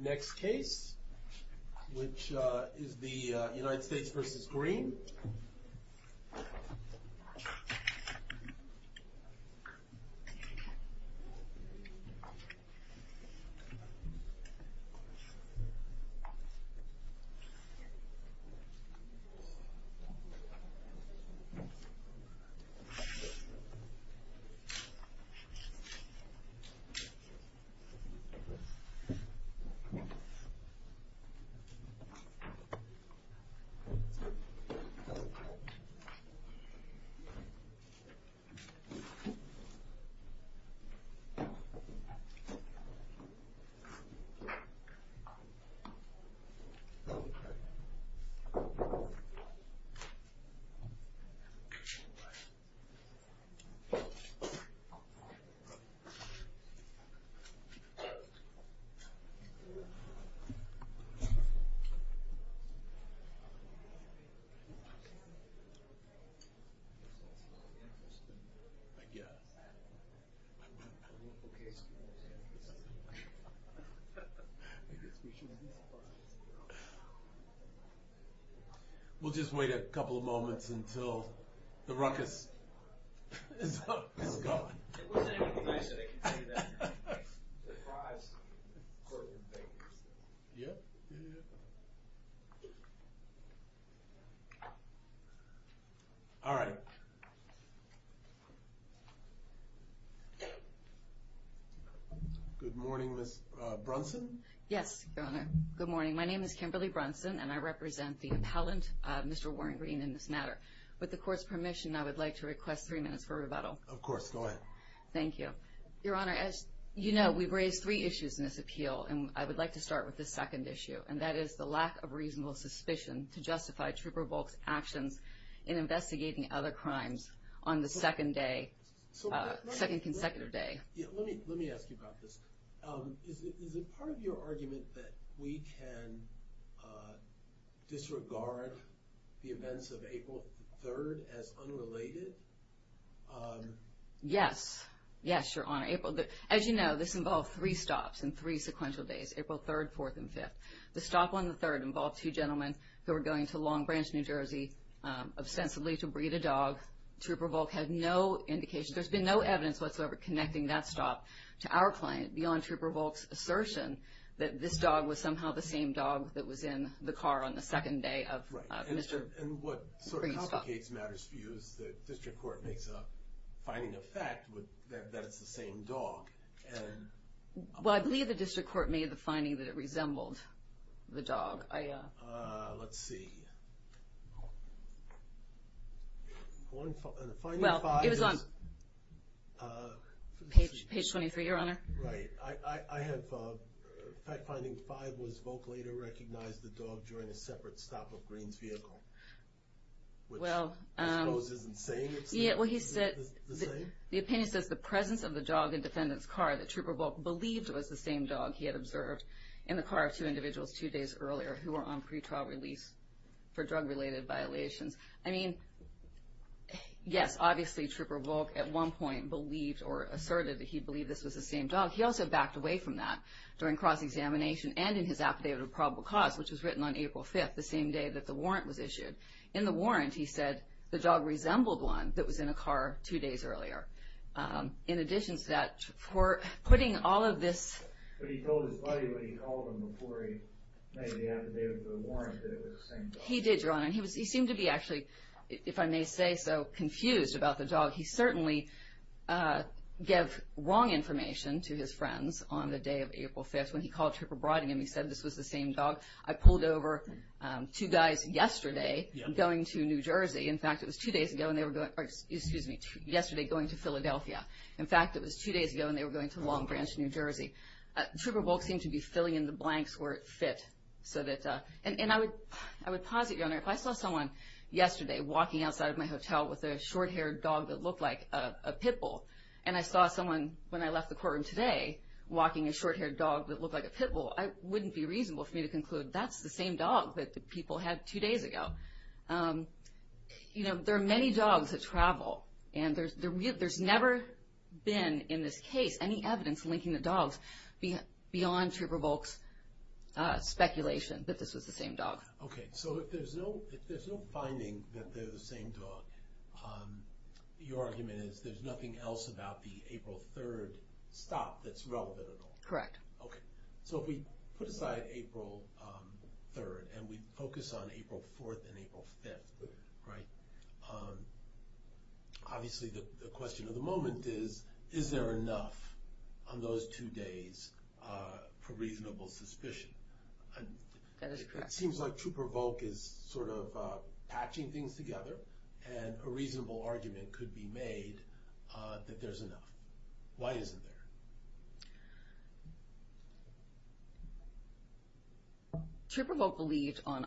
Next case, which is the United States versus Green. Next case, which is the United States versus Green. We'll just wait a couple of moments until the ruckus is gone. All right. Good morning, Ms. Brunson? Yes, Your Honor. Good morning. My name is Kimberly Brunson, and I represent the appellant, Mr. Warren Green, in this matter. With the court's permission, I would like to request three minutes for rebuttal. Of course. Go ahead. Thank you. Your Honor, as you know, we've raised three issues in this appeal, and I would like to start with the second issue, and that is the lack of reasonable suspicion to justify Trooper Volk's actions in investigating other crimes on the second consecutive day. Let me ask you about this. Is it part of your argument that we can disregard the events of April 3rd as unrelated? Yes. Yes, Your Honor. As you know, this involved three stops and three sequential days, April 3rd, 4th, and 5th. The stop on the 3rd involved two gentlemen who were going to Long Branch, New Jersey, ostensibly to breed a dog. Trooper Volk had no indication. There's been no evidence whatsoever connecting that stop to our client beyond Trooper Volk's assertion that this dog was somehow the same dog that was in the car on the second day of Mr. Green's stop. Right. And what sort of complicates matters for you is the district court makes a finding of fact that it's the same dog. Well, I believe the district court made the finding that it resembled the dog. Let's see. Well, it was on page 23, Your Honor. Right. I have fact finding five was Volk later recognized the dog during a separate stop of Green's vehicle, which I suppose isn't saying it's the same. The opinion says the presence of the dog in defendant's car that Trooper Volk believed was the same dog he had observed in the car of two individuals two days earlier who were on pretrial release for drug-related violations. I mean, yes, obviously Trooper Volk at one point believed or asserted that he believed this was the same dog. He also backed away from that during cross-examination and in his affidavit of probable cause, which was written on April 5th, the same day that the warrant was issued. In the warrant, he said the dog resembled one that was in a car two days earlier. In addition to that, for putting all of this... He did, Your Honor. He seemed to be actually, if I may say so, confused about the dog. He certainly gave wrong information to his friends on the day of April 5th when he called Trooper Brottingham. He said this was the same dog. I pulled over two guys yesterday going to New Jersey. In fact, it was two days ago and they were going... Excuse me, yesterday going to Philadelphia. In fact, it was two days ago and they were going to Long Branch, New Jersey. Trooper Wolk seemed to be filling in the blanks where it fit so that... And I would posit, Your Honor, if I saw someone yesterday walking outside of my hotel with a short-haired dog that looked like a pit bull and I saw someone when I left the courtroom today walking a short-haired dog that looked like a pit bull, it wouldn't be reasonable for me to conclude that's the same dog that the people had two days ago. You know, there are many dogs that travel and there's never been in this case any evidence linking the dogs beyond Trooper Wolk's speculation that this was the same dog. Okay. So if there's no finding that they're the same dog, your argument is there's nothing else about the April 3rd stop that's relevant at all? Correct. Okay. So if we put aside April 3rd and we focus on April 4th and April 5th, right, obviously the question of the moment is, is there enough on those two days for reasonable suspicion? That is correct. It seems like Trooper Wolk is sort of patching things together and a reasonable argument could be made that there's enough. Why isn't there? Trooper Wolk believed on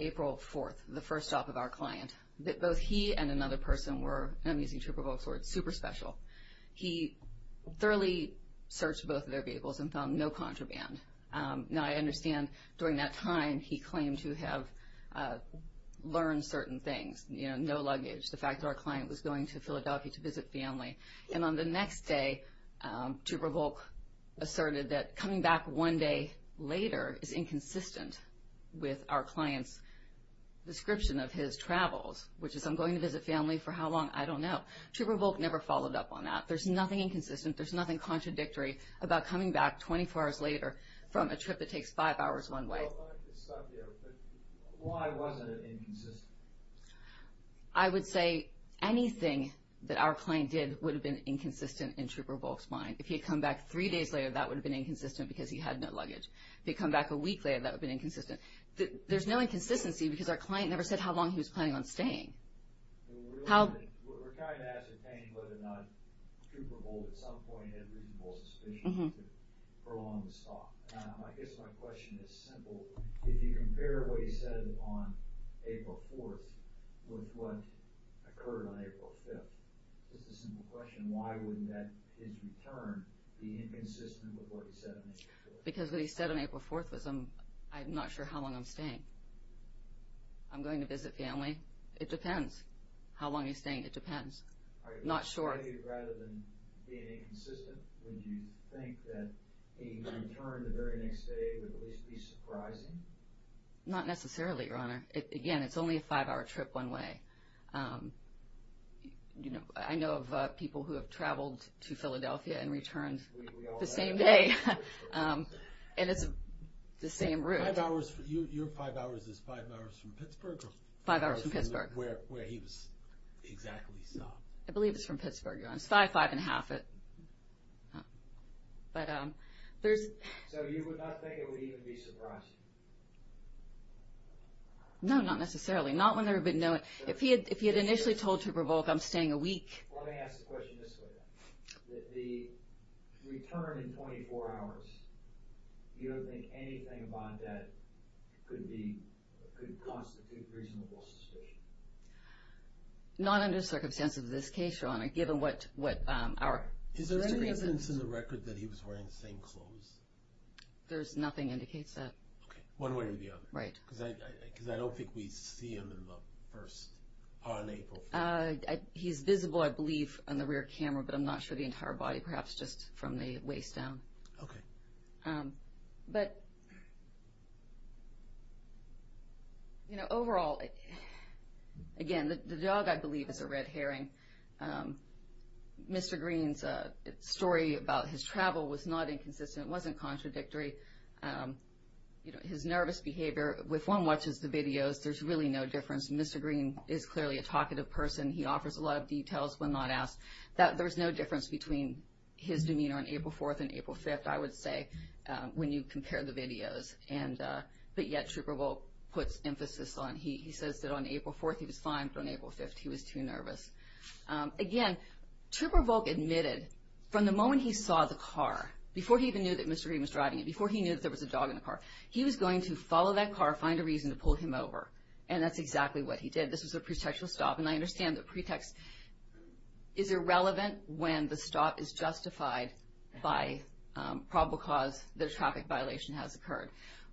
April 4th, the first stop of our client, that both he and another person were, and I'm using Trooper Wolk's words, super special. He thoroughly searched both of their vehicles and found no contraband. Now I understand during that time he claimed to have learned certain things, you know, no luggage, the fact that our client was going to Philadelphia to visit family. And on the next day, Trooper Wolk asserted that coming back one day later is inconsistent with our client's description of his travels, which is I'm going to visit family for how long, I don't know. Trooper Wolk never followed up on that. There's nothing inconsistent. There's nothing contradictory about coming back 24 hours later from a trip that takes five hours one way. Why wasn't it inconsistent? I would say anything that our client did would have been inconsistent in Trooper Wolk's mind. If he had come back three days later, that would have been inconsistent because he had no luggage. If he had come back a week later, that would have been inconsistent. There's no inconsistency because our client never said how long he was planning on staying. We're trying to ascertain whether or not Trooper Wolk at some point had reasonable suspicion to prolong the stop. I guess my question is simple. If you compare what he said on April 4th with what occurred on April 5th, it's a simple question. Why wouldn't his return be inconsistent with what he said on April 4th? Because what he said on April 4th was, I'm not sure how long I'm staying. I'm going to visit family. It depends. How long he's staying, it depends. I'm not sure. Rather than being inconsistent, would you think that a return the very next day would at least be surprising? Not necessarily, Your Honor. Again, it's only a five-hour trip one way. I know of people who have traveled to Philadelphia and returned the same day. And it's the same route. Your five hours is five hours from Pittsburgh? Five hours from Pittsburgh. Where he was exactly stopped. I believe it's from Pittsburgh, Your Honor. It's five, five and a half. So you would not think it would even be surprising? No, not necessarily. If he had initially told to revoke, I'm staying a week. Let me ask the question this way, then. The return in 24 hours, you don't think anything about that could constitute reasonable suspicion? Not under the circumstances of this case, Your Honor, given what our... Is there any evidence in the record that he was wearing the same clothes? There's nothing that indicates that. Okay. One way or the other. Right. Because I don't think we see him in the first part of April. He's visible, I believe, on the rear camera. But I'm not sure the entire body, perhaps just from the waist down. Okay. But, you know, overall, again, the dog, I believe, is a red herring. Mr. Green's story about his travel was not inconsistent. It wasn't contradictory. You know, his nervous behavior, if one watches the videos, there's really no difference. Mr. Green is clearly a talkative person. He offers a lot of details when not asked. There's no difference between his demeanor on April 4th and April 5th, I would say, when you compare the videos. But yet Trooper Volk puts emphasis on he says that on April 4th he was fine, but on April 5th he was too nervous. Again, Trooper Volk admitted from the moment he saw the car, before he even knew that Mr. Green was driving it, before he knew that there was a dog in the car, he was going to follow that car, find a reason to pull him over. And that's exactly what he did. This was a pretextual stop. And I understand the pretext is irrelevant when the stop is justified by probable cause that a traffic violation has occurred.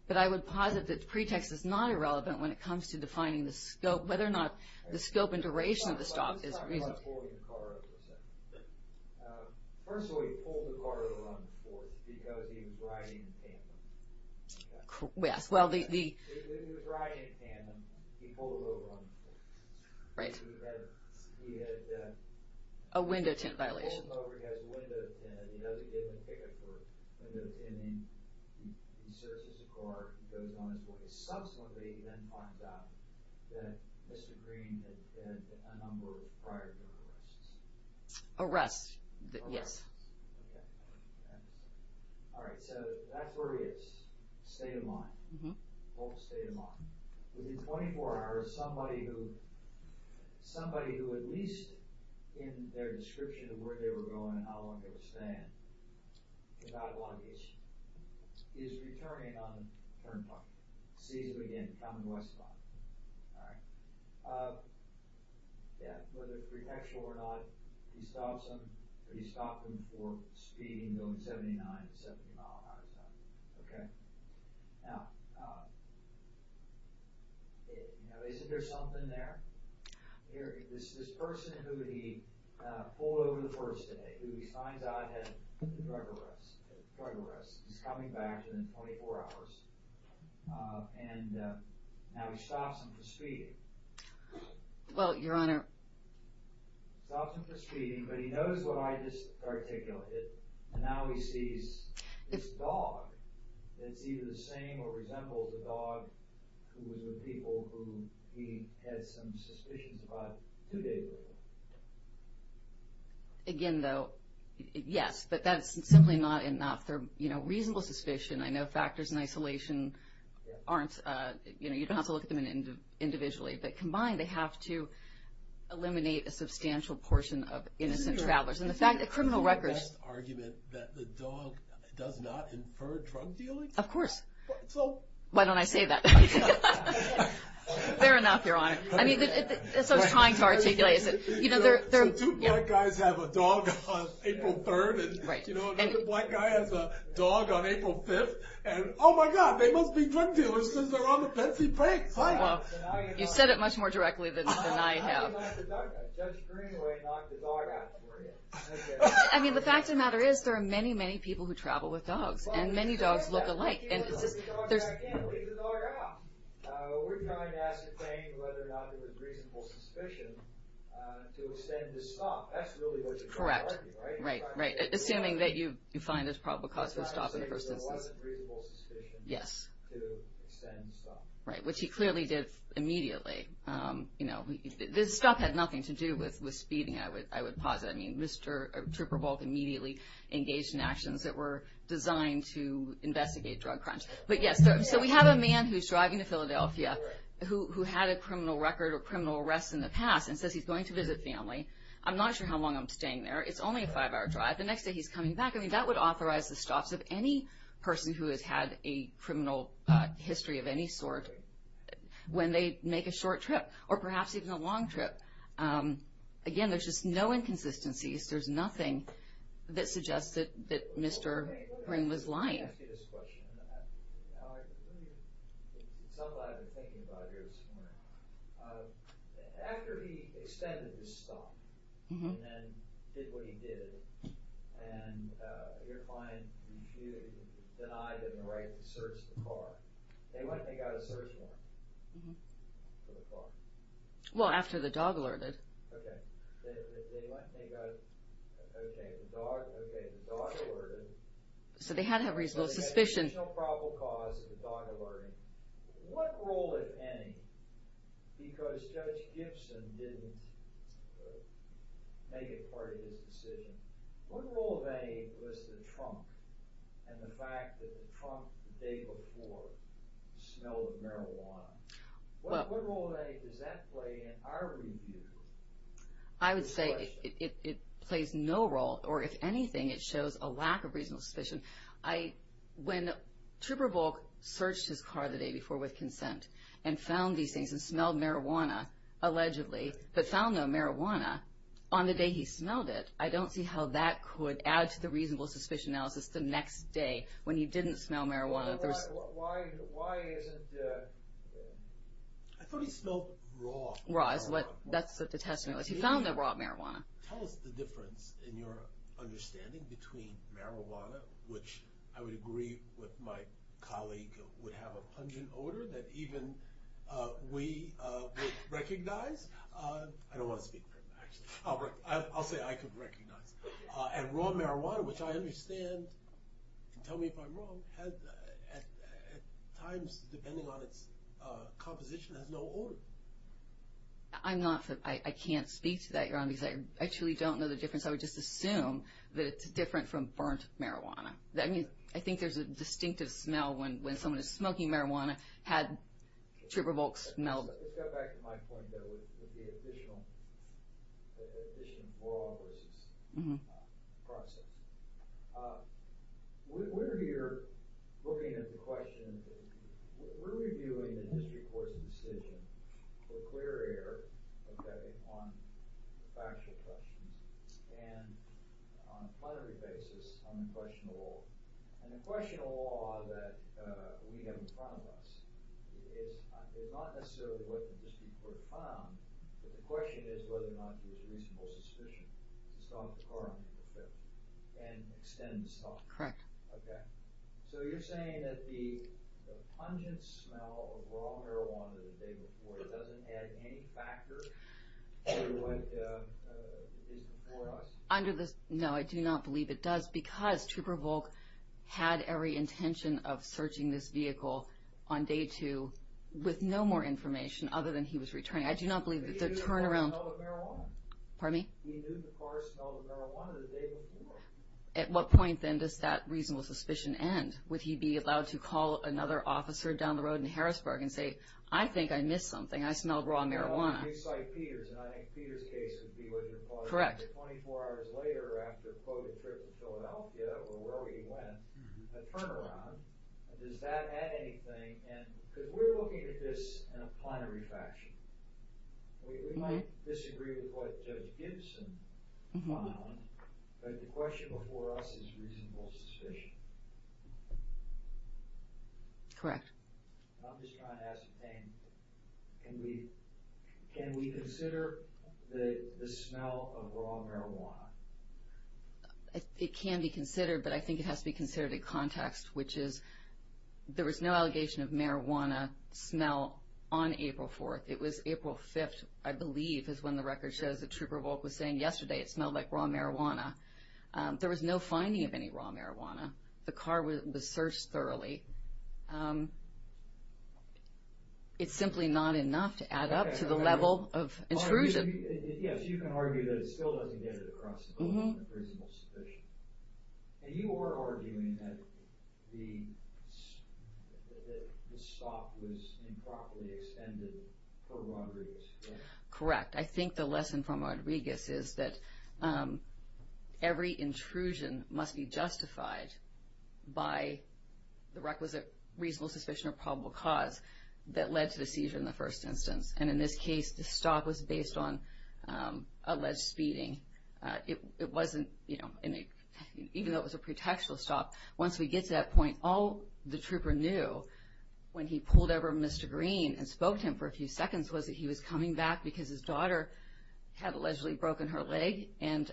But I would posit that the pretext is not irrelevant when it comes to defining the scope, whether or not the scope and duration of the stop is reasonable. First of all, he pulled the car over on the 4th because he was riding in tandem. He was riding in tandem, he pulled over on the 4th. He had a window tint violation. He pulled him over, he has a window tint, he has a given ticket for window tinting. He searches the car, he goes on his way. Subsequently, he then finds out that Mr. Green had a number prior to the arrests. Arrests, yes. Alright, so that's where he is. State of mind. Volk's state of mind. Within 24 hours, somebody who at least in their description of where they were going and how long they were staying, without obligation, is returning on the turnpike. Sees him again, coming west of him. Alright. Yeah, whether pretextual or not, he stops him. He stops him for speeding, going 79, 70 miles an hour. Okay. Now, is there something there? This person who he pulled over the first day, who he finds out had a drug arrest, is coming back within 24 hours. And now he stops him for speeding. Well, Your Honor. Stops him for speeding, but he knows what I just articulated. And now he sees this dog that's either the same or resembles a dog who was with people who he had some suspicions about two days ago. Again, though, yes. But that's simply not a reasonable suspicion. I know factors in isolation aren't, you know, you don't have to look at them individually. But combined, they have to eliminate a substantial portion of innocent travelers. And the fact that criminal records Is it your best argument that the dog does not infer drug dealing? Of course. Why don't I say that? Fair enough, Your Honor. I mean, that's what I was trying to articulate. You know, two black guys have a dog on April 3rd, and another black guy has a dog on April 5th. And, oh, my God, they must be drug dealers because they're on the fancy brakes. Well, you said it much more directly than I have. I mean, the fact of the matter is there are many, many people who travel with dogs. And many dogs look alike. And there's Correct. Right. Assuming that you find there's probable cause for stopping the person. Yes. Right. Which he clearly did immediately. You know, this stuff had nothing to do with speeding, I would posit. I mean, Mr. Trooper Volk immediately engaged in actions that were designed to investigate drug crimes. But, yes, so we have a man who's driving to Philadelphia who had a criminal record or criminal arrest in the past and says he's going to visit family. I'm not sure how long I'm staying there. It's only a five-hour drive. The next day he's coming back. I mean, that would authorize the stops of any person who has had a criminal history of any sort when they make a short trip or perhaps even a long trip. Again, there's just no inconsistencies. There's nothing that suggests that Mr. Green was lying. Well, after the dog alerted. Okay, the dog alerted. So they had to have reasonable suspicion. So they had a reasonable probable cause of the dog alerting. What role, if any, because Judge Gibson didn't make it part of his decision, what role, if any, was the trunk and the fact that the trunk the day before smelled of marijuana? What role, if any, does that play in our review? I would say it plays no role, or if anything, it shows a lack of reasonable suspicion. When Trooper Volk searched his car the day before with consent and found these things and smelled marijuana, allegedly, but found no marijuana on the day he smelled it, I don't see how that could add to the reasonable suspicion analysis the next day when he didn't smell marijuana. Why isn't there? I thought he smelled raw. Raw is what the test was. He found the raw marijuana. Tell us the difference in your understanding between marijuana, which I would agree with my colleague would have a pungent odor that even we would recognize. I don't want to speak for him, actually. I'll say I could recognize. And raw marijuana, which I understand, tell me if I'm wrong, at times, depending on its composition, has no odor. I can't speak to that, Your Honor, because I actually don't know the difference. I would just assume that it's different from burnt marijuana. I think there's a distinctive smell when someone is smoking marijuana, had Trooper Volk smelled it. Let's go back to my point, though, with the addition of raw versus processed. We're here looking at the question. We're reviewing the district court's decision for clear air on factual questions and on a primary basis on the question of law. And the question of law that we have in front of us is not necessarily what the district court found, but the question is whether or not there's reasonable suspicion. So you're saying that the pungent smell of raw marijuana the day before doesn't add any factor to what is before us? No, I do not believe it does, because Trooper Volk had every intention of searching this vehicle on day two with no more information other than he was returning. He knew the car smelled of marijuana the day before. At what point, then, does that reasonable suspicion end? Would he be allowed to call another officer down the road in Harrisburg and say, I think I missed something, I smelled raw marijuana? Well, if you cite Peters, and I think Peters' case would be what you're calling it. Correct. 24 hours later after a quoted trip to Philadelphia or wherever he went, a turnaround, does that add anything? Because we're looking at this in a plenary fashion. We might disagree with what Judge Gibson found, but the question before us is reasonable suspicion. Correct. I'm just trying to ask a thing. Can we consider the smell of raw marijuana? It can be considered, but I think it has to be considered in context, which is there was no allegation of marijuana smell on April 4th. It was April 5th, I believe, is when the record shows that Trooper Volk was saying yesterday it smelled like raw marijuana. There was no finding of any raw marijuana. The car was searched thoroughly. It's simply not enough to add up to the level of intrusion. Yes, you can argue that it still doesn't get it across to reasonable suspicion. You are arguing that the stop was improperly extended for Rodriguez, correct? Correct. I think the lesson from Rodriguez is that every intrusion must be justified by the requisite reasonable suspicion or probable cause that led to the seizure in the first instance. In this case, the stop was based on alleged speeding. Even though it was a pretextual stop, once we get to that point, all the trooper knew when he pulled over Mr. Green and spoke to him for a few seconds was that he was coming back because his daughter had allegedly broken her leg and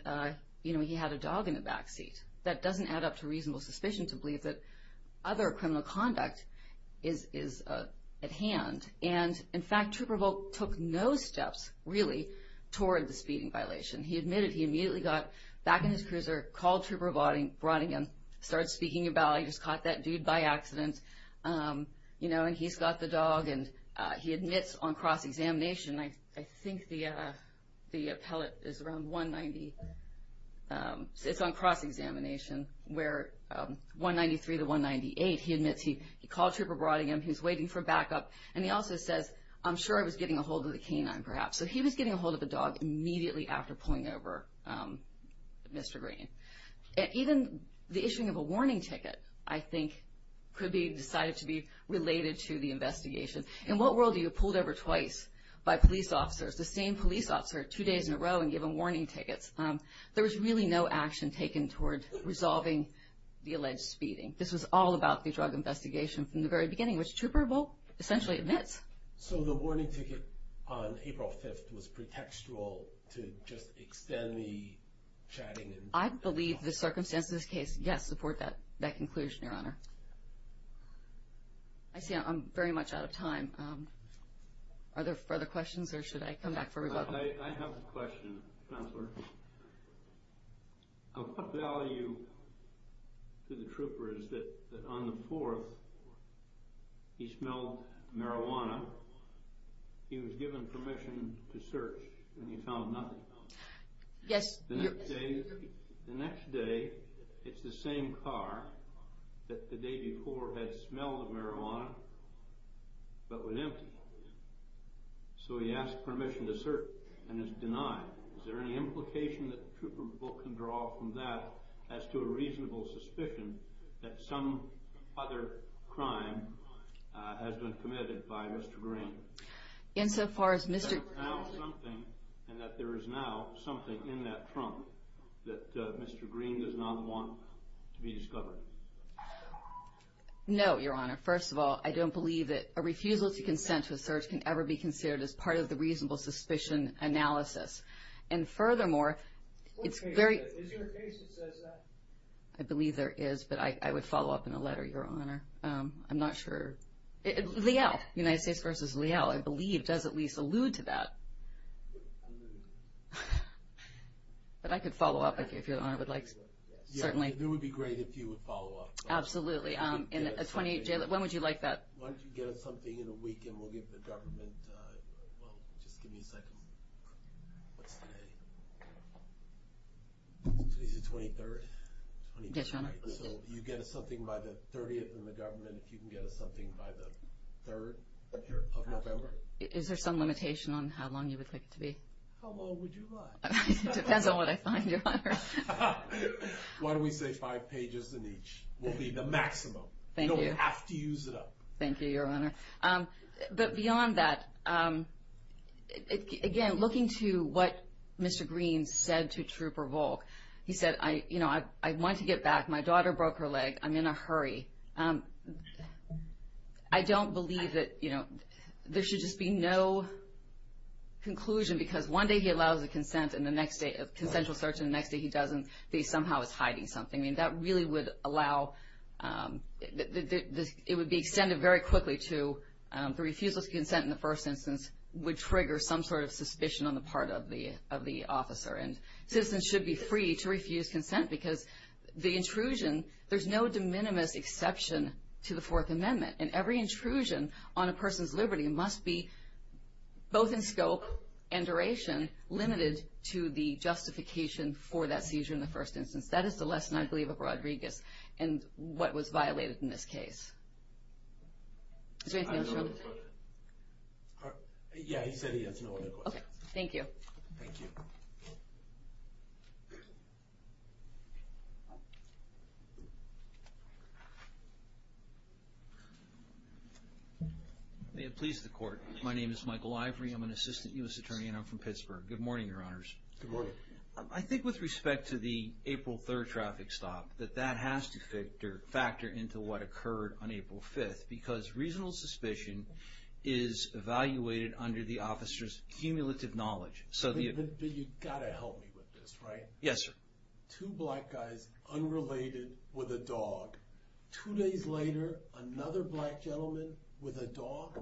he had a dog in the back seat. That doesn't add up to reasonable suspicion to believe that other criminal conduct is at hand. In fact, Trooper Volk took no steps, really, toward the speeding violation. He admitted he immediately got back in his cruiser, called Trooper Brodingham, started speaking about how he just caught that dude by accident, you know, and he's got the dog. He admits on cross-examination, I think the appellate is around 190. It's on cross-examination where 193 to 198, he admits he called Trooper Brodingham, he was waiting for backup, and he also says, I'm sure I was getting a hold of the canine, perhaps. So he was getting a hold of the dog immediately after pulling over Mr. Green. Even the issuing of a warning ticket, I think, could be decided to be related to the investigation. In what world are you pulled over twice by police officers, the same police officer two days in a row and given warning tickets? There was really no action taken toward resolving the alleged speeding. This was all about the drug investigation from the very beginning, which Trooper Volk essentially admits. So the warning ticket on April 5th was pretextual to just extend the chatting? I believe the circumstances of this case, yes, support that conclusion, Your Honor. I see I'm very much out of time. Are there further questions or should I come back for rebuttal? I have a question, Counselor. Of what value to the trooper is that on the 4th he smelled marijuana, he was given permission to search and he found nothing? Yes. The next day it's the same car that the day before had smelled the marijuana but was empty. So he asked permission to search and is denied. Is there any implication that Trooper Volk can draw from that as to a reasonable suspicion that some other crime has been committed by Mr. Green? Insofar as Mr. — And that there is now something in that trunk that Mr. Green does not want to be discovered? No, Your Honor. First of all, I don't believe that a refusal to consent to a search can ever be considered as part of the reasonable suspicion analysis. And furthermore, it's very — Is there a case that says that? I believe there is, but I would follow up in a letter, Your Honor. I'm not sure. Leal, United States v. Leal, I believe does at least allude to that. But I could follow up if Your Honor would like, certainly. It would be great if you would follow up. Absolutely. When would you like that? Why don't you get us something in a week and we'll give the government — well, just give me a second. What's today? Today's the 23rd? Yes, Your Honor. So you get us something by the 30th and the government, if you can get us something by the 3rd of November? Is there some limitation on how long you would like it to be? How long would you like? It depends on what I find, Your Honor. Why don't we say five pages in each will be the maximum? Thank you. You have to use it up. Thank you, Your Honor. But beyond that, again, looking to what Mr. Greene said to Trooper Volk, he said, you know, I want to get back. My daughter broke her leg. I'm in a hurry. I don't believe that, you know, there should just be no conclusion, because one day he allows a consensual search and the next day he doesn't, that he somehow is hiding something. I mean, that really would allow the ‑‑ it would be extended very quickly to the refusal to consent in the first instance would trigger some sort of suspicion on the part of the officer. And citizens should be free to refuse consent because the intrusion, there's no de minimis exception to the Fourth Amendment, and every intrusion on a person's liberty must be both in scope and duration limited to the justification for that seizure in the first instance. That is the lesson, I believe, of Rodriguez and what was violated in this case. Is there anything else you want to say? Yeah, he said he has no other questions. Okay, thank you. Thank you. May it please the Court. My name is Michael Ivory. I'm an Assistant U.S. Attorney and I'm from Pittsburgh. Good morning, Your Honors. Good morning. I think with respect to the April 3rd traffic stop, that that has to factor into what occurred on April 5th because reasonable suspicion is evaluated under the officer's cumulative knowledge. But you've got to help me with this, right? Yes, sir. Two black guys unrelated with a dog. Two days later, another black gentleman with a dog.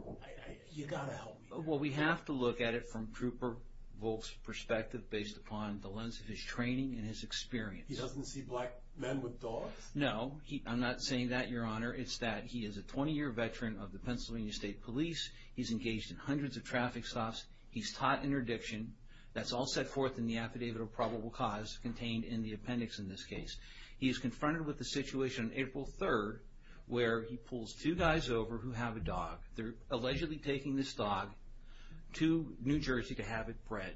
You've got to help me. Well, we have to look at it from Trooper Volk's perspective based upon the lens of his training and his experience. He doesn't see black men with dogs? No. I'm not saying that, Your Honor. It's that he is a 20-year veteran of the Pennsylvania State Police. He's engaged in hundreds of traffic stops. He's taught interdiction. That's all set forth in the affidavit of probable cause contained in the appendix in this case. He is confronted with the situation on April 3rd where he pulls two guys over who have a dog. They're allegedly taking this dog to New Jersey to have it bred.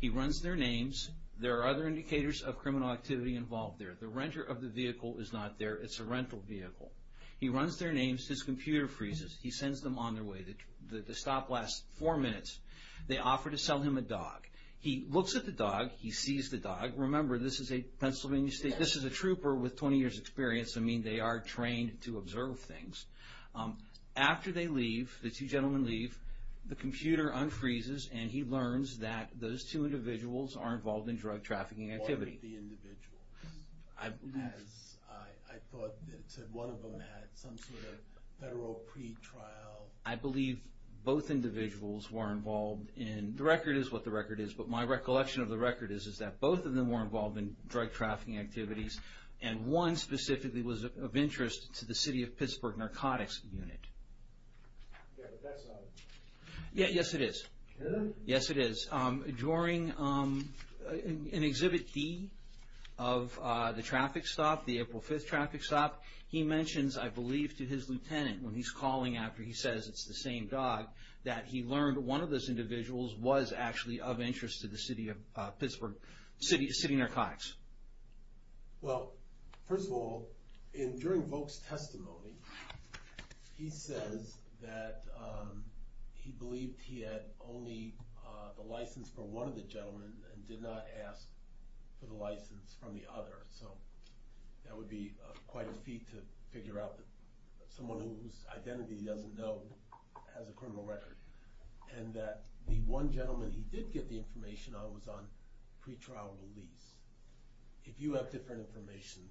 He runs their names. There are other indicators of criminal activity involved there. The renter of the vehicle is not there. It's a rental vehicle. He runs their names. His computer freezes. He sends them on their way. The stop lasts four minutes. They offer to sell him a dog. He looks at the dog. He sees the dog. Remember, this is a Pennsylvania State. This is a trooper with 20 years' experience. I mean, they are trained to observe things. After they leave, the two gentlemen leave, the computer unfreezes, and he learns that those two individuals are involved in drug trafficking activity. I believe both individuals were involved in, the record is what the record is, but my recollection of the record is that both of them were involved in drug trafficking activities, and one specifically was of interest to the City of Pittsburgh Narcotics Unit. Yeah, but that's not it. Yes, it is. Is it? Yes, it is. During an exhibit D of the traffic stop, the April 5th traffic stop, he mentions, I believe, to his lieutenant, when he's calling after he says it's the same dog, that he learned one of those individuals was actually of interest to the City of Pittsburgh, City Narcotics. Well, first of all, during Volk's testimony, he says that he believed he had only the license for one of the gentlemen, and did not ask for the license from the other, so that would be quite a feat to figure out someone whose identity he doesn't know has a criminal record, and that the one gentleman he did get the information on was on pretrial release. If you have different information,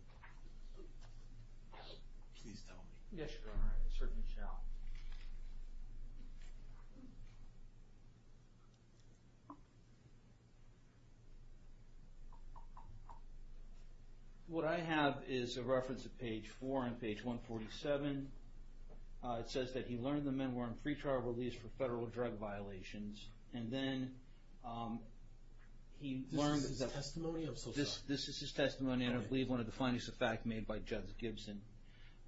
please tell me. Yes, Your Honor, I certainly shall. What I have is a reference to page 4 on page 147. It says that he learned the men were on pretrial release for federal drug violations, and then he learned... This is his testimony? I'm so sorry. This is his testimony, and I believe one of the findings of fact made by Judge Gibson.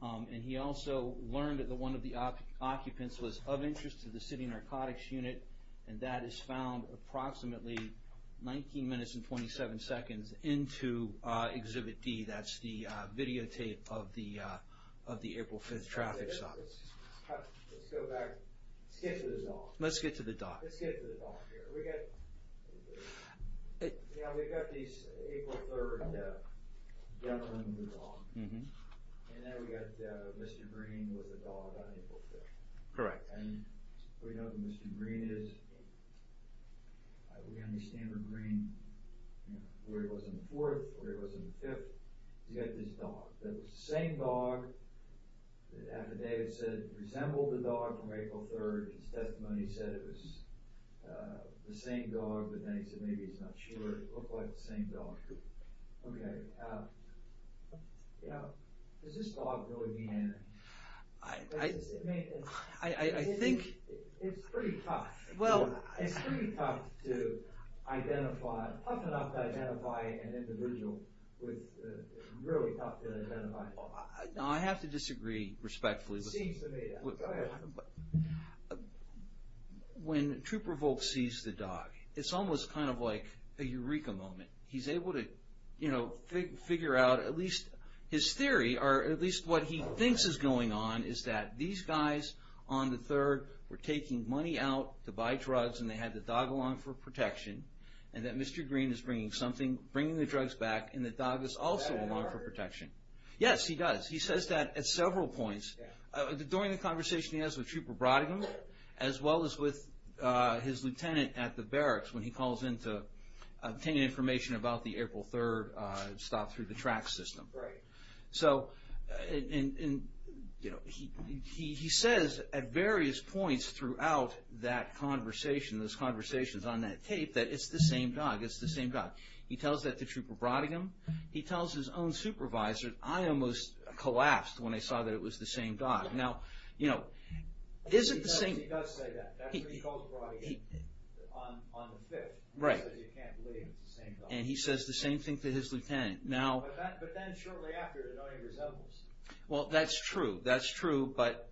And he also learned that one of the occupants was of interest to the City Narcotics Unit, and that is found approximately 19 minutes and 27 seconds into exhibit D. That's the videotape of the April 5th traffic stop. Let's go back. Let's get to the dog. Let's get to the dog here. We've got these April 3rd gentleman with a dog, and then we've got Mr. Green with a dog on April 3rd. Correct. And we know who Mr. Green is. We understand where Green... where he was on the 4th, where he was on the 5th. You've got this dog. The same dog that affidavit said resembled the dog from April 3rd, his testimony said it was the same dog, but then he said maybe he's not sure it looked like the same dog. Okay. Does this dog really mean anything? I think... It's pretty tough. It's pretty tough to identify... tough enough to identify an individual with... really tough to identify. I have to disagree respectfully. Go ahead. When Troop Revolt sees the dog, it's almost kind of like a eureka moment. He's able to figure out at least his theory, or at least what he thinks is going on, is that these guys on the 3rd were taking money out to buy drugs, and they had the dog along for protection, and that Mr. Green is bringing the drugs back, and the dog is also along for protection. Yes, he does. He says that at several points. During the conversation he has with Trooper Brodingham, as well as with his lieutenant at the barracks when he calls in to obtain information about the April 3rd stop through the track system. Right. So he says at various points throughout that conversation, those conversations on that tape, that it's the same dog, it's the same dog. He tells that to Trooper Brodingham. He tells his own supervisor, I almost collapsed when I saw that it was the same dog. Now, you know, is it the same? He does say that. That's what he calls Brodingham on the 5th. Right. He says he can't believe it's the same dog. And he says the same thing to his lieutenant. But then shortly after, it no longer resembles. Well, that's true. That's true, but...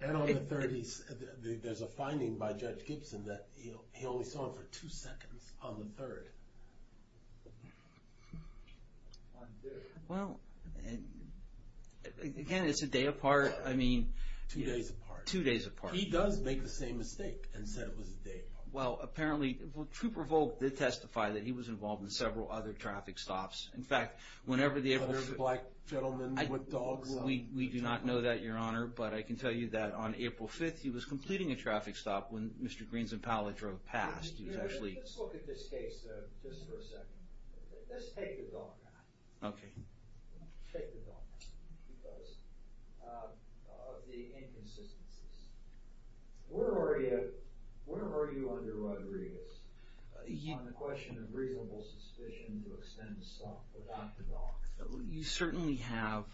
And on the 3rd, there's a finding by Judge Gibson that he only saw him for two seconds on the 3rd. Well, again, it's a day apart. I mean... Two days apart. Two days apart. He does make the same mistake and said it was a day apart. Well, apparently, Trooper Volk did testify that he was involved in several other traffic stops. In fact, whenever the April... There's a black gentleman with dogs. We do not know that, Your Honor, but I can tell you that on April 5th, he was completing a traffic stop when Mr. Greens and Pallet drove past. He was actually... Let's look at this case just for a second. Let's take the dog out. Okay. Take the dog out. Because of the inconsistencies. Where are you under Rodriguez on the question of reasonable suspicion to extend the stop without the dog? You certainly have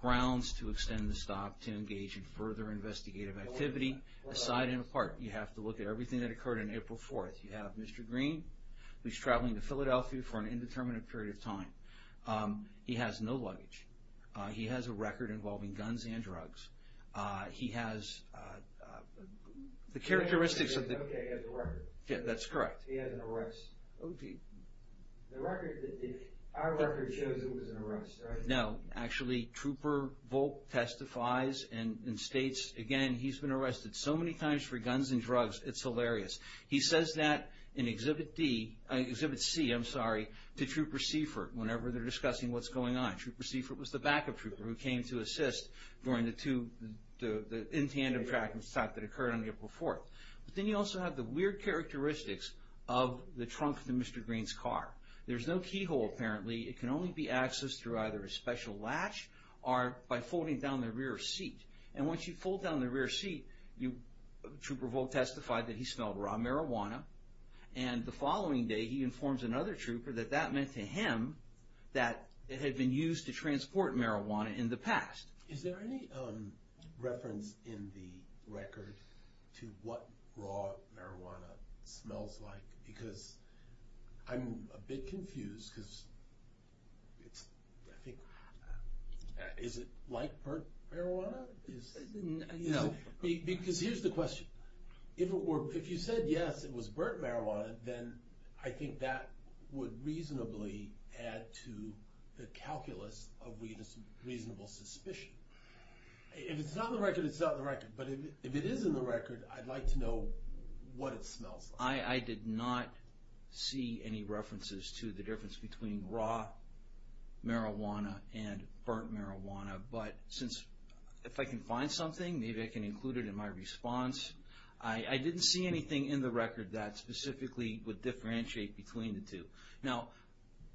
grounds to extend the stop to engage in further investigative activity aside and apart. You have to look at everything that occurred on April 4th. You have Mr. Green, who's traveling to Philadelphia for an indeterminate period of time. He has no luggage. He has a record involving guns and drugs. He has... The characteristics of the... Okay, he has a record. Yeah, that's correct. He had an arrest. The record... Our record shows it was an arrest, right? No. Actually, Trooper Volk testifies and states, again, he's been arrested so many times for guns and drugs, it's hilarious. He says that in Exhibit D... Exhibit C, I'm sorry, to Trooper Seifert whenever they're discussing what's going on. Trooper Seifert was the backup trooper who came to assist during the two... the in tandem track that occurred on April 4th. But then you also have the weird characteristics of the trunk of Mr. Green's car. There's no keyhole, apparently. It can only be accessed through either a special latch or by folding down the rear seat. And once you fold down the rear seat, Trooper Volk testified that he smelled raw marijuana. And the following day, he informs another trooper that that meant to him that it had been used to transport marijuana in the past. Is there any reference in the record to what raw marijuana smells like? Because I'm a bit confused because... Is it like burnt marijuana? No. Because here's the question. If you said yes, it was burnt marijuana, then I think that would reasonably add to the calculus of reasonable suspicion. If it's not in the record, it's not in the record. But if it is in the record, I'd like to know what it smells like. I did not see any references to the difference between raw marijuana and burnt marijuana. But if I can find something, maybe I can include it in my response. I didn't see anything in the record that specifically would differentiate between the two. Now,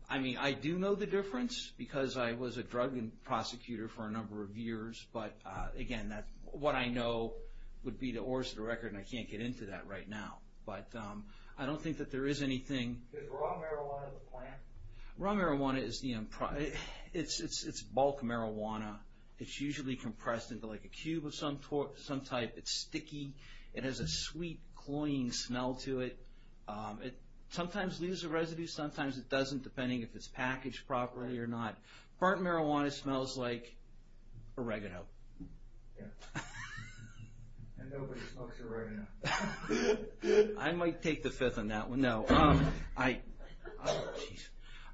I do know the difference because I was a drug prosecutor for a number of years. But again, what I know would be the oars of the record, and I can't get into that right now. But I don't think that there is anything... Is raw marijuana the plant? Raw marijuana is the... It's bulk marijuana. It's usually compressed into a cube of some type. It's sticky. It has a sweet, cloying smell to it. It sometimes leaves a residue. Sometimes it doesn't, depending if it's packaged properly or not. Burnt marijuana smells like oregano. Yeah. And nobody smokes oregano. I might take the fifth on that one. No. Oh, jeez.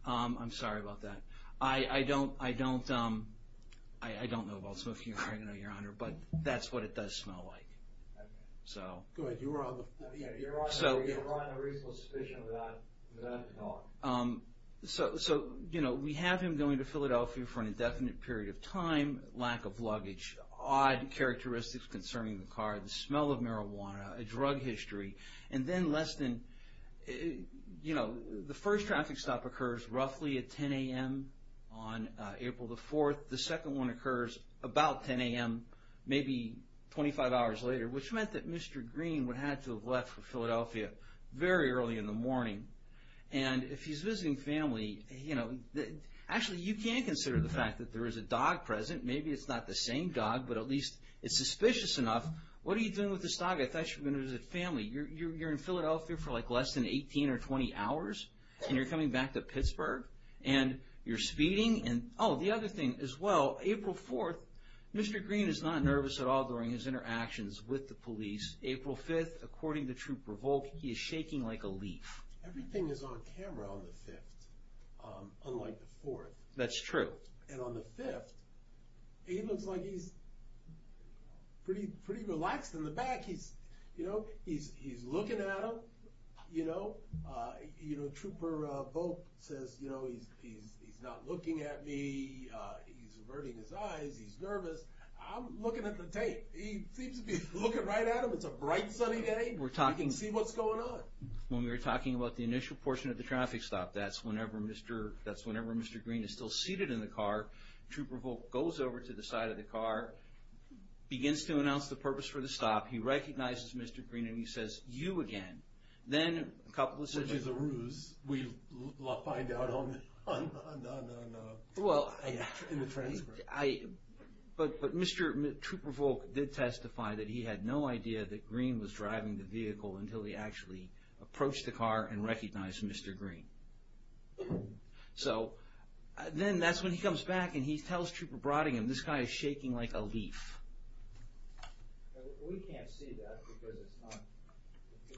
I'm sorry about that. I don't know about smoking oregano, Your Honor, but that's what it does smell like. Go ahead. You were on a reasonable suspicion of that at all. So, you know, we have him going to Philadelphia for an indefinite period of time, lack of luggage, odd characteristics concerning the car, the smell of marijuana, a drug history, and then less than, you know, the first traffic stop occurs roughly at 10 a.m. on April the 4th. The second one occurs about 10 a.m., maybe 25 hours later, which meant that Mr. Green would have to have left for Philadelphia very early in the morning. And if he's visiting family, you know, actually you can consider the fact that there is a dog present. Maybe it's not the same dog, but at least it's suspicious enough. What are you doing with this dog? I thought you were going to visit family. You're in Philadelphia for like less than 18 or 20 hours, and you're coming back to Pittsburgh, and you're speeding. Oh, the other thing as well, April 4th, Mr. Green is not nervous at all during his interactions with the police. April 5th, according to Troop Revoke, he is shaking like a leaf. Everything is on camera on the 5th, unlike the 4th. That's true. And on the 5th, he looks like he's pretty relaxed. In the back, he's looking at them, you know. Troop Revoke says, you know, he's not looking at me. He's averting his eyes. He's nervous. I'm looking at the tape. He seems to be looking right at them. It's a bright, sunny day. You can see what's going on. When we were talking about the initial portion of the traffic stop, that's whenever Mr. Green is still seated in the car. Troop Revoke goes over to the side of the car, begins to announce the purpose for the stop. He recognizes Mr. Green, and he says, you again. Then a couple of seconds later. Which is a ruse. We'll find out on the transcript. But Mr. Troop Revoke did testify that he had no idea that Green was driving the vehicle until he actually approached the car and recognized Mr. Green. So then that's when he comes back, and he tells Trooper Brottingham, this guy is shaking like a leaf. We can't see that because it's not.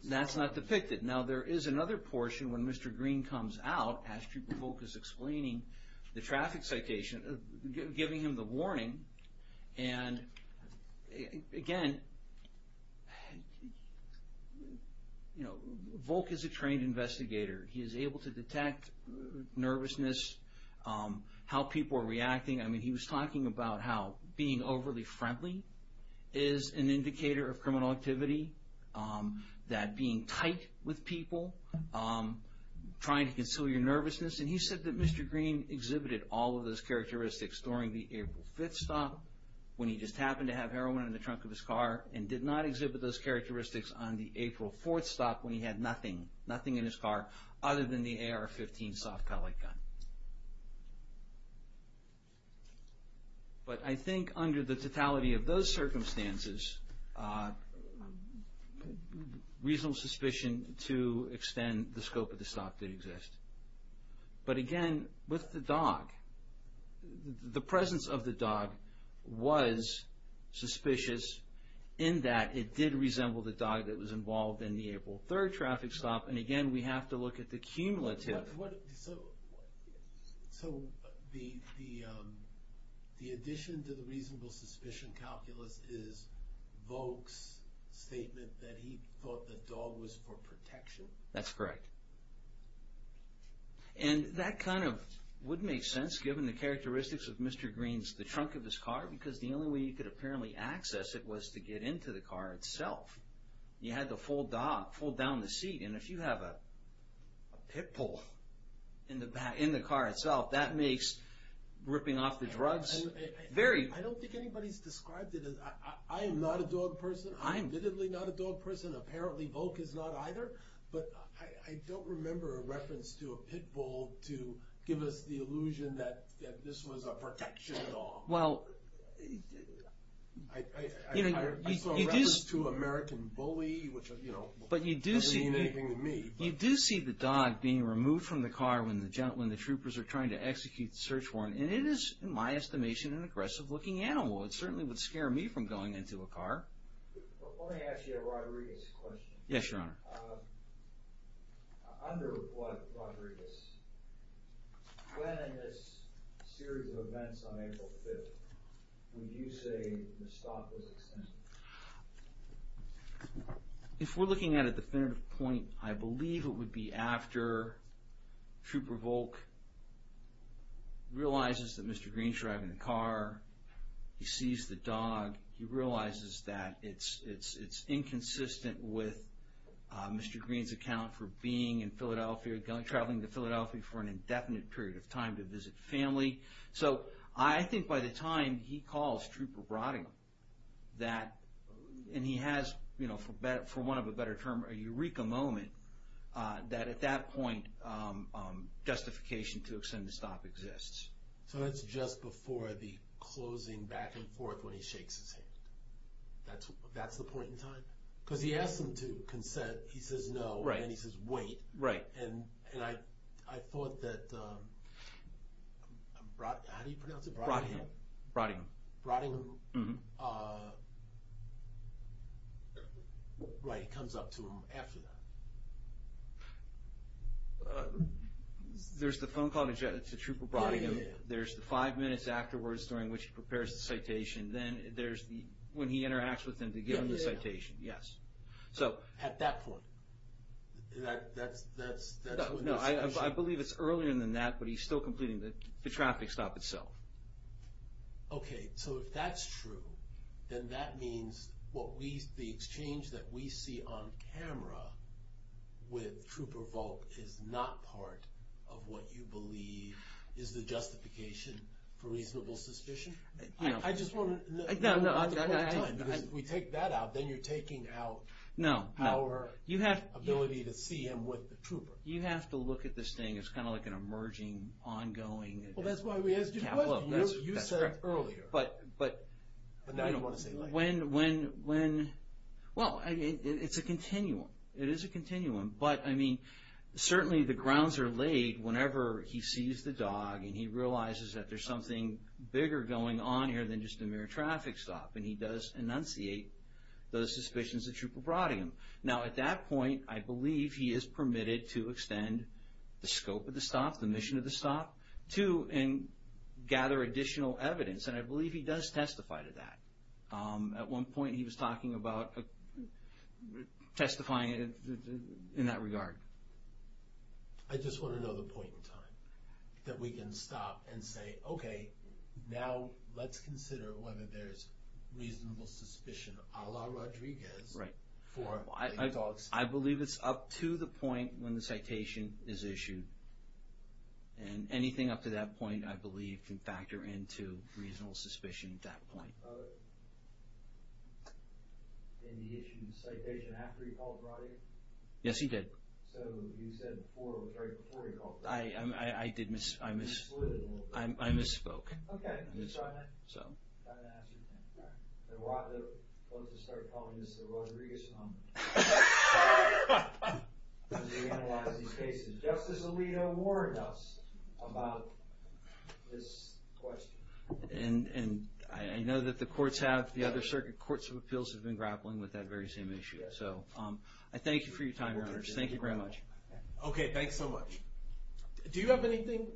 That's not depicted. Now there is another portion when Mr. Green comes out, as Troop Revoke is explaining the traffic citation, giving him the warning. And again, you know, Volk is a trained investigator. He is able to detect nervousness, how people are reacting. I mean, he was talking about how being overly friendly is an indicator of criminal activity, that being tight with people, trying to conceal your nervousness. And he said that Mr. Green exhibited all of those characteristics during the April 5th stop when he just happened to have heroin in the trunk of his car and did not exhibit those characteristics on the April 4th stop when he had nothing, nothing in his car other than the AR-15 soft pellet gun. But I think under the totality of those circumstances, reasonable suspicion to extend the scope of the stop did exist. But again, with the dog, the presence of the dog was suspicious in that it did resemble the dog that was involved in the April 3rd traffic stop. And again, we have to look at the cumulative. So the addition to the reasonable suspicion calculus is Volk's statement that he thought the dog was for protection? That's correct. And that kind of would make sense given the characteristics of Mr. Green's, because the only way you could apparently access it was to get into the car itself. You had to fold down the seat, and if you have a pit bull in the car itself, that makes ripping off the drugs very... I don't think anybody's described it as... I am not a dog person. I'm admittedly not a dog person. Apparently Volk is not either. But I don't remember a reference to a pit bull to give us the illusion that this was a protection at all. I saw a reference to an American bully, which doesn't mean anything to me. You do see the dog being removed from the car when the troopers are trying to execute the search warrant, and it is, in my estimation, an aggressive-looking animal. It certainly would scare me from going into a car. Let me ask you a Rodriguez question. Yes, Your Honor. Under Rodriguez, when in this series of events on April 5th, would you say the stop was extensive? If we're looking at a definitive point, I believe it would be after Trooper Volk realizes that Mr. Green's driving the car, he sees the dog, he realizes that it's inconsistent with Mr. Green's account for being in Philadelphia, traveling to Philadelphia for an indefinite period of time to visit family. So I think by the time he calls Trooper Broding, and he has, for want of a better term, a eureka moment, that at that point justification to extend the stop exists. So that's just before the closing back and forth when he shakes his head. That's the point in time? Because he asks him to consent, he says no, and he says wait. Right. And I thought that Broding, how do you pronounce it? Broding. Broding. Broding. Right, he comes up to him after that. There's the phone call to Trooper Broding, there's the five minutes afterwards during which he prepares the citation, then there's when he interacts with him to give him the citation, yes. At that point? No, I believe it's earlier than that, but he's still completing the traffic stop itself. Okay, so if that's true, then that means the exchange that we see on camera with Trooper Volk is not part of what you believe is the justification for reasonable suspicion? I just want to know at the point in time, because if we take that out, then you're taking out our ability to see him with the trooper. You have to look at this thing as kind of like an emerging, ongoing, Well, that's why we asked you a question. You said earlier. But when, well, it's a continuum. It is a continuum, but, I mean, certainly the grounds are laid whenever he sees the dog and he realizes that there's something bigger going on here than just a mere traffic stop, and he does enunciate those suspicions that Trooper Broding. Now, at that point, I believe he is permitted to extend the scope of the stop, the mission of the stop, too, and gather additional evidence, and I believe he does testify to that. At one point he was talking about testifying in that regard. I just want to know the point in time that we can stop and say, okay, now let's consider whether there's reasonable suspicion a la Rodriguez. Right. I believe it's up to the point when the citation is issued, and anything up to that point I believe can factor into reasonable suspicion at that point. Did he issue the citation after he called Broding? Yes, he did. So you said before he called Broding. I misspoke. Okay, I'm just trying to ask you. I want to start calling this the Rodriguez moment. As we analyze these cases. Justice Alito warned us about this question. And I know that the courts have, the other circuit courts of appeals, have been grappling with that very same issue. So I thank you for your time, Your Honors. Thank you very much. Okay, thanks so much. Do you have anything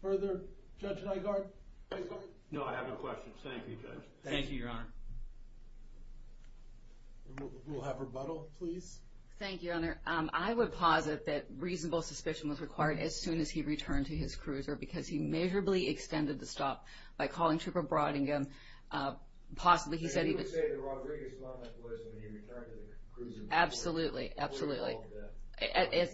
further, Judge Nygaard? No, I have no questions. Thank you, Judge. Thank you, Your Honor. We'll have rebuttal, please. Thank you, Your Honor. I would posit that reasonable suspicion was required as soon as he returned to his cruiser because he measurably extended the stop by calling Trooper Broding. Possibly he said he was. So you would say the Rodriguez moment was when he returned to the cruiser. Absolutely, absolutely.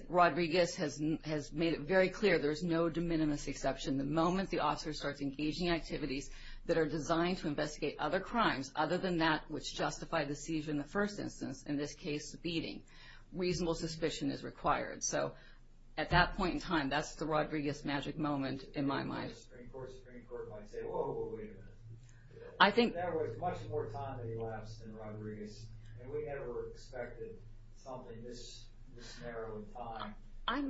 Rodriguez has made it very clear there's no de minimis exception. The moment the officer starts engaging in activities that are designed to investigate other crimes, other than that which justified the seizure in the first instance, in this case, the beating, reasonable suspicion is required. So at that point in time, that's the Rodriguez magic moment in my mind. Supreme Court might say, whoa, wait a minute. There was much more time elapsed in Rodriguez, and we never expected something this narrow in time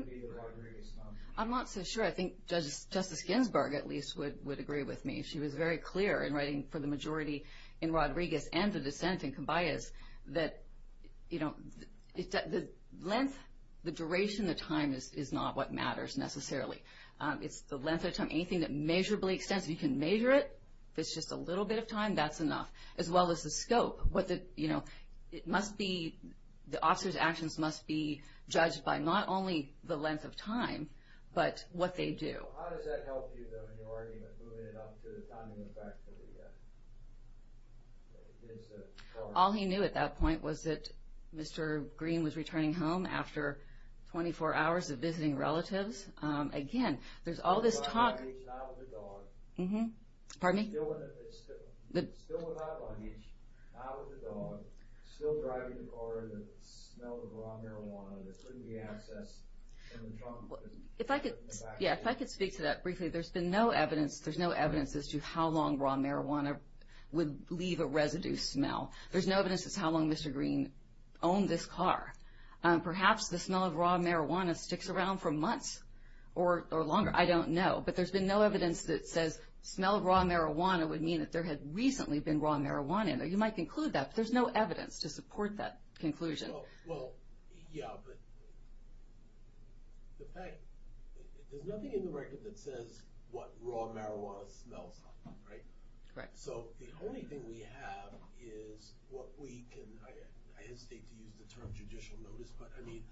to be the Rodriguez moment. I'm not so sure. I think Justice Ginsburg, at least, would agree with me. She was very clear in writing for the majority in Rodriguez and the dissent in Combias that, you know, the length, the duration of time is not what matters necessarily. It's the length of time. Anything that measurably extends, you can measure it. If it's just a little bit of time, that's enough, as well as the scope. You know, it must be, the officer's actions must be judged by not only the length of time, but what they do. So how does that help you, though, in your argument, moving it up to the timing effect that we get? All he knew at that point was that Mr. Green was returning home after 24 hours of visiting relatives. Again, there's all this talk. Still without luggage, not with the dog. Pardon me? Still without luggage, not with the dog. Still driving the car and the smell of raw marijuana that couldn't be accessed. Yeah, if I could speak to that briefly. There's been no evidence, there's no evidence as to how long raw marijuana would leave a residue smell. There's no evidence as to how long Mr. Green owned this car. Perhaps the smell of raw marijuana sticks around for months or longer. I don't know. But there's been no evidence that says smell of raw marijuana would mean that there had recently been raw marijuana. You might conclude that, but there's no evidence to support that conclusion. Well, yeah, but the fact, there's nothing in the record that says what raw marijuana smells like, right? Correct. So the only thing we have is what we can, I hesitate to use the term judicial notice, but I mean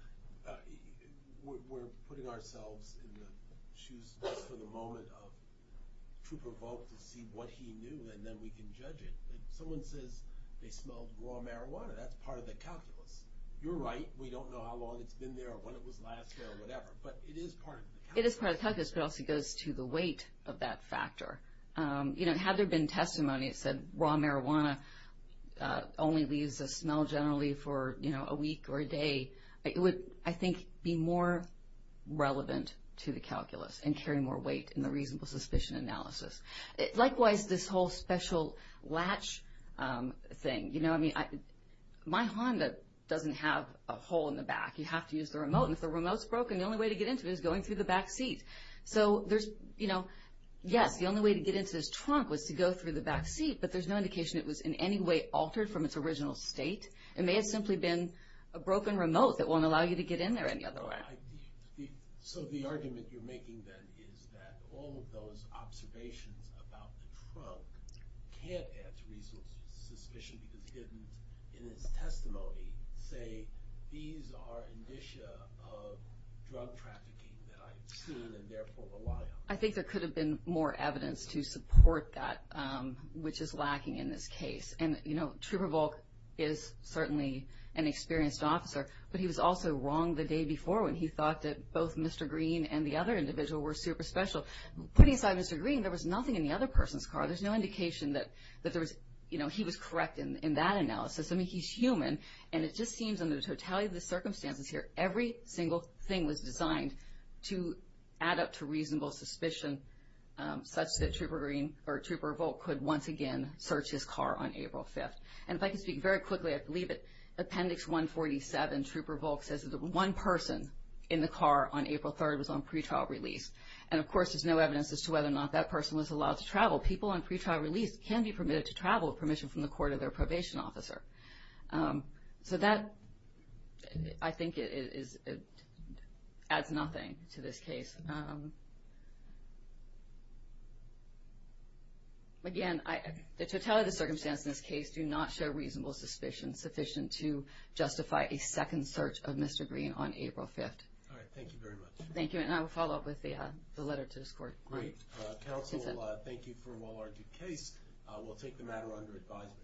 we're putting ourselves in the shoes just for the moment of true provoke to see what he knew, and then we can judge it. Someone says they smelled raw marijuana. That's part of the calculus. You're right. We don't know how long it's been there or when it was last there or whatever, but it is part of the calculus. It is part of the calculus, but it also goes to the weight of that factor. Had there been testimony that said raw marijuana only leaves a smell generally for a week or a day, it would, I think, be more relevant to the calculus and carry more weight in the reasonable suspicion analysis. Likewise, this whole special latch thing, you know, I mean my Honda doesn't have a hole in the back. You have to use the remote, and if the remote's broken, the only way to get into it is going through the back seat. So there's, you know, yes, the only way to get into this trunk was to go through the back seat, but there's no indication it was in any way altered from its original state. It may have simply been a broken remote that won't allow you to get in there any other way. So the argument you're making then is that all of those observations about the trunk can't add to reasonable suspicion because it didn't, in its testimony, say these are indicia of drug trafficking that I've seen and therefore rely on. I think there could have been more evidence to support that, which is lacking in this case. And, you know, Trooper Volk is certainly an experienced officer, but he was also wrong the day before when he thought that both Mr. Green and the other individual were super special. Putting aside Mr. Green, there was nothing in the other person's car. There's no indication that there was, you know, he was correct in that analysis. I mean, he's human, and it just seems under the totality of the circumstances here, every single thing was designed to add up to reasonable suspicion, such that Trooper Green or Trooper Volk could once again search his car on April 5th. And if I can speak very quickly, I believe that Appendix 147, Trooper Volk says that the one person in the car on April 3rd was on pretrial release. And, of course, there's no evidence as to whether or not that person was allowed to travel. People on pretrial release can be permitted to travel with permission from the court of their probation officer. So that, I think, adds nothing to this case. Again, the totality of the circumstances in this case do not show reasonable suspicion sufficient to justify a second search of Mr. Green on April 5th. All right. Thank you very much. Thank you. And I will follow up with the letter to this court. Great. Counsel, thank you for a well-argued case. We'll take the matter under advisement.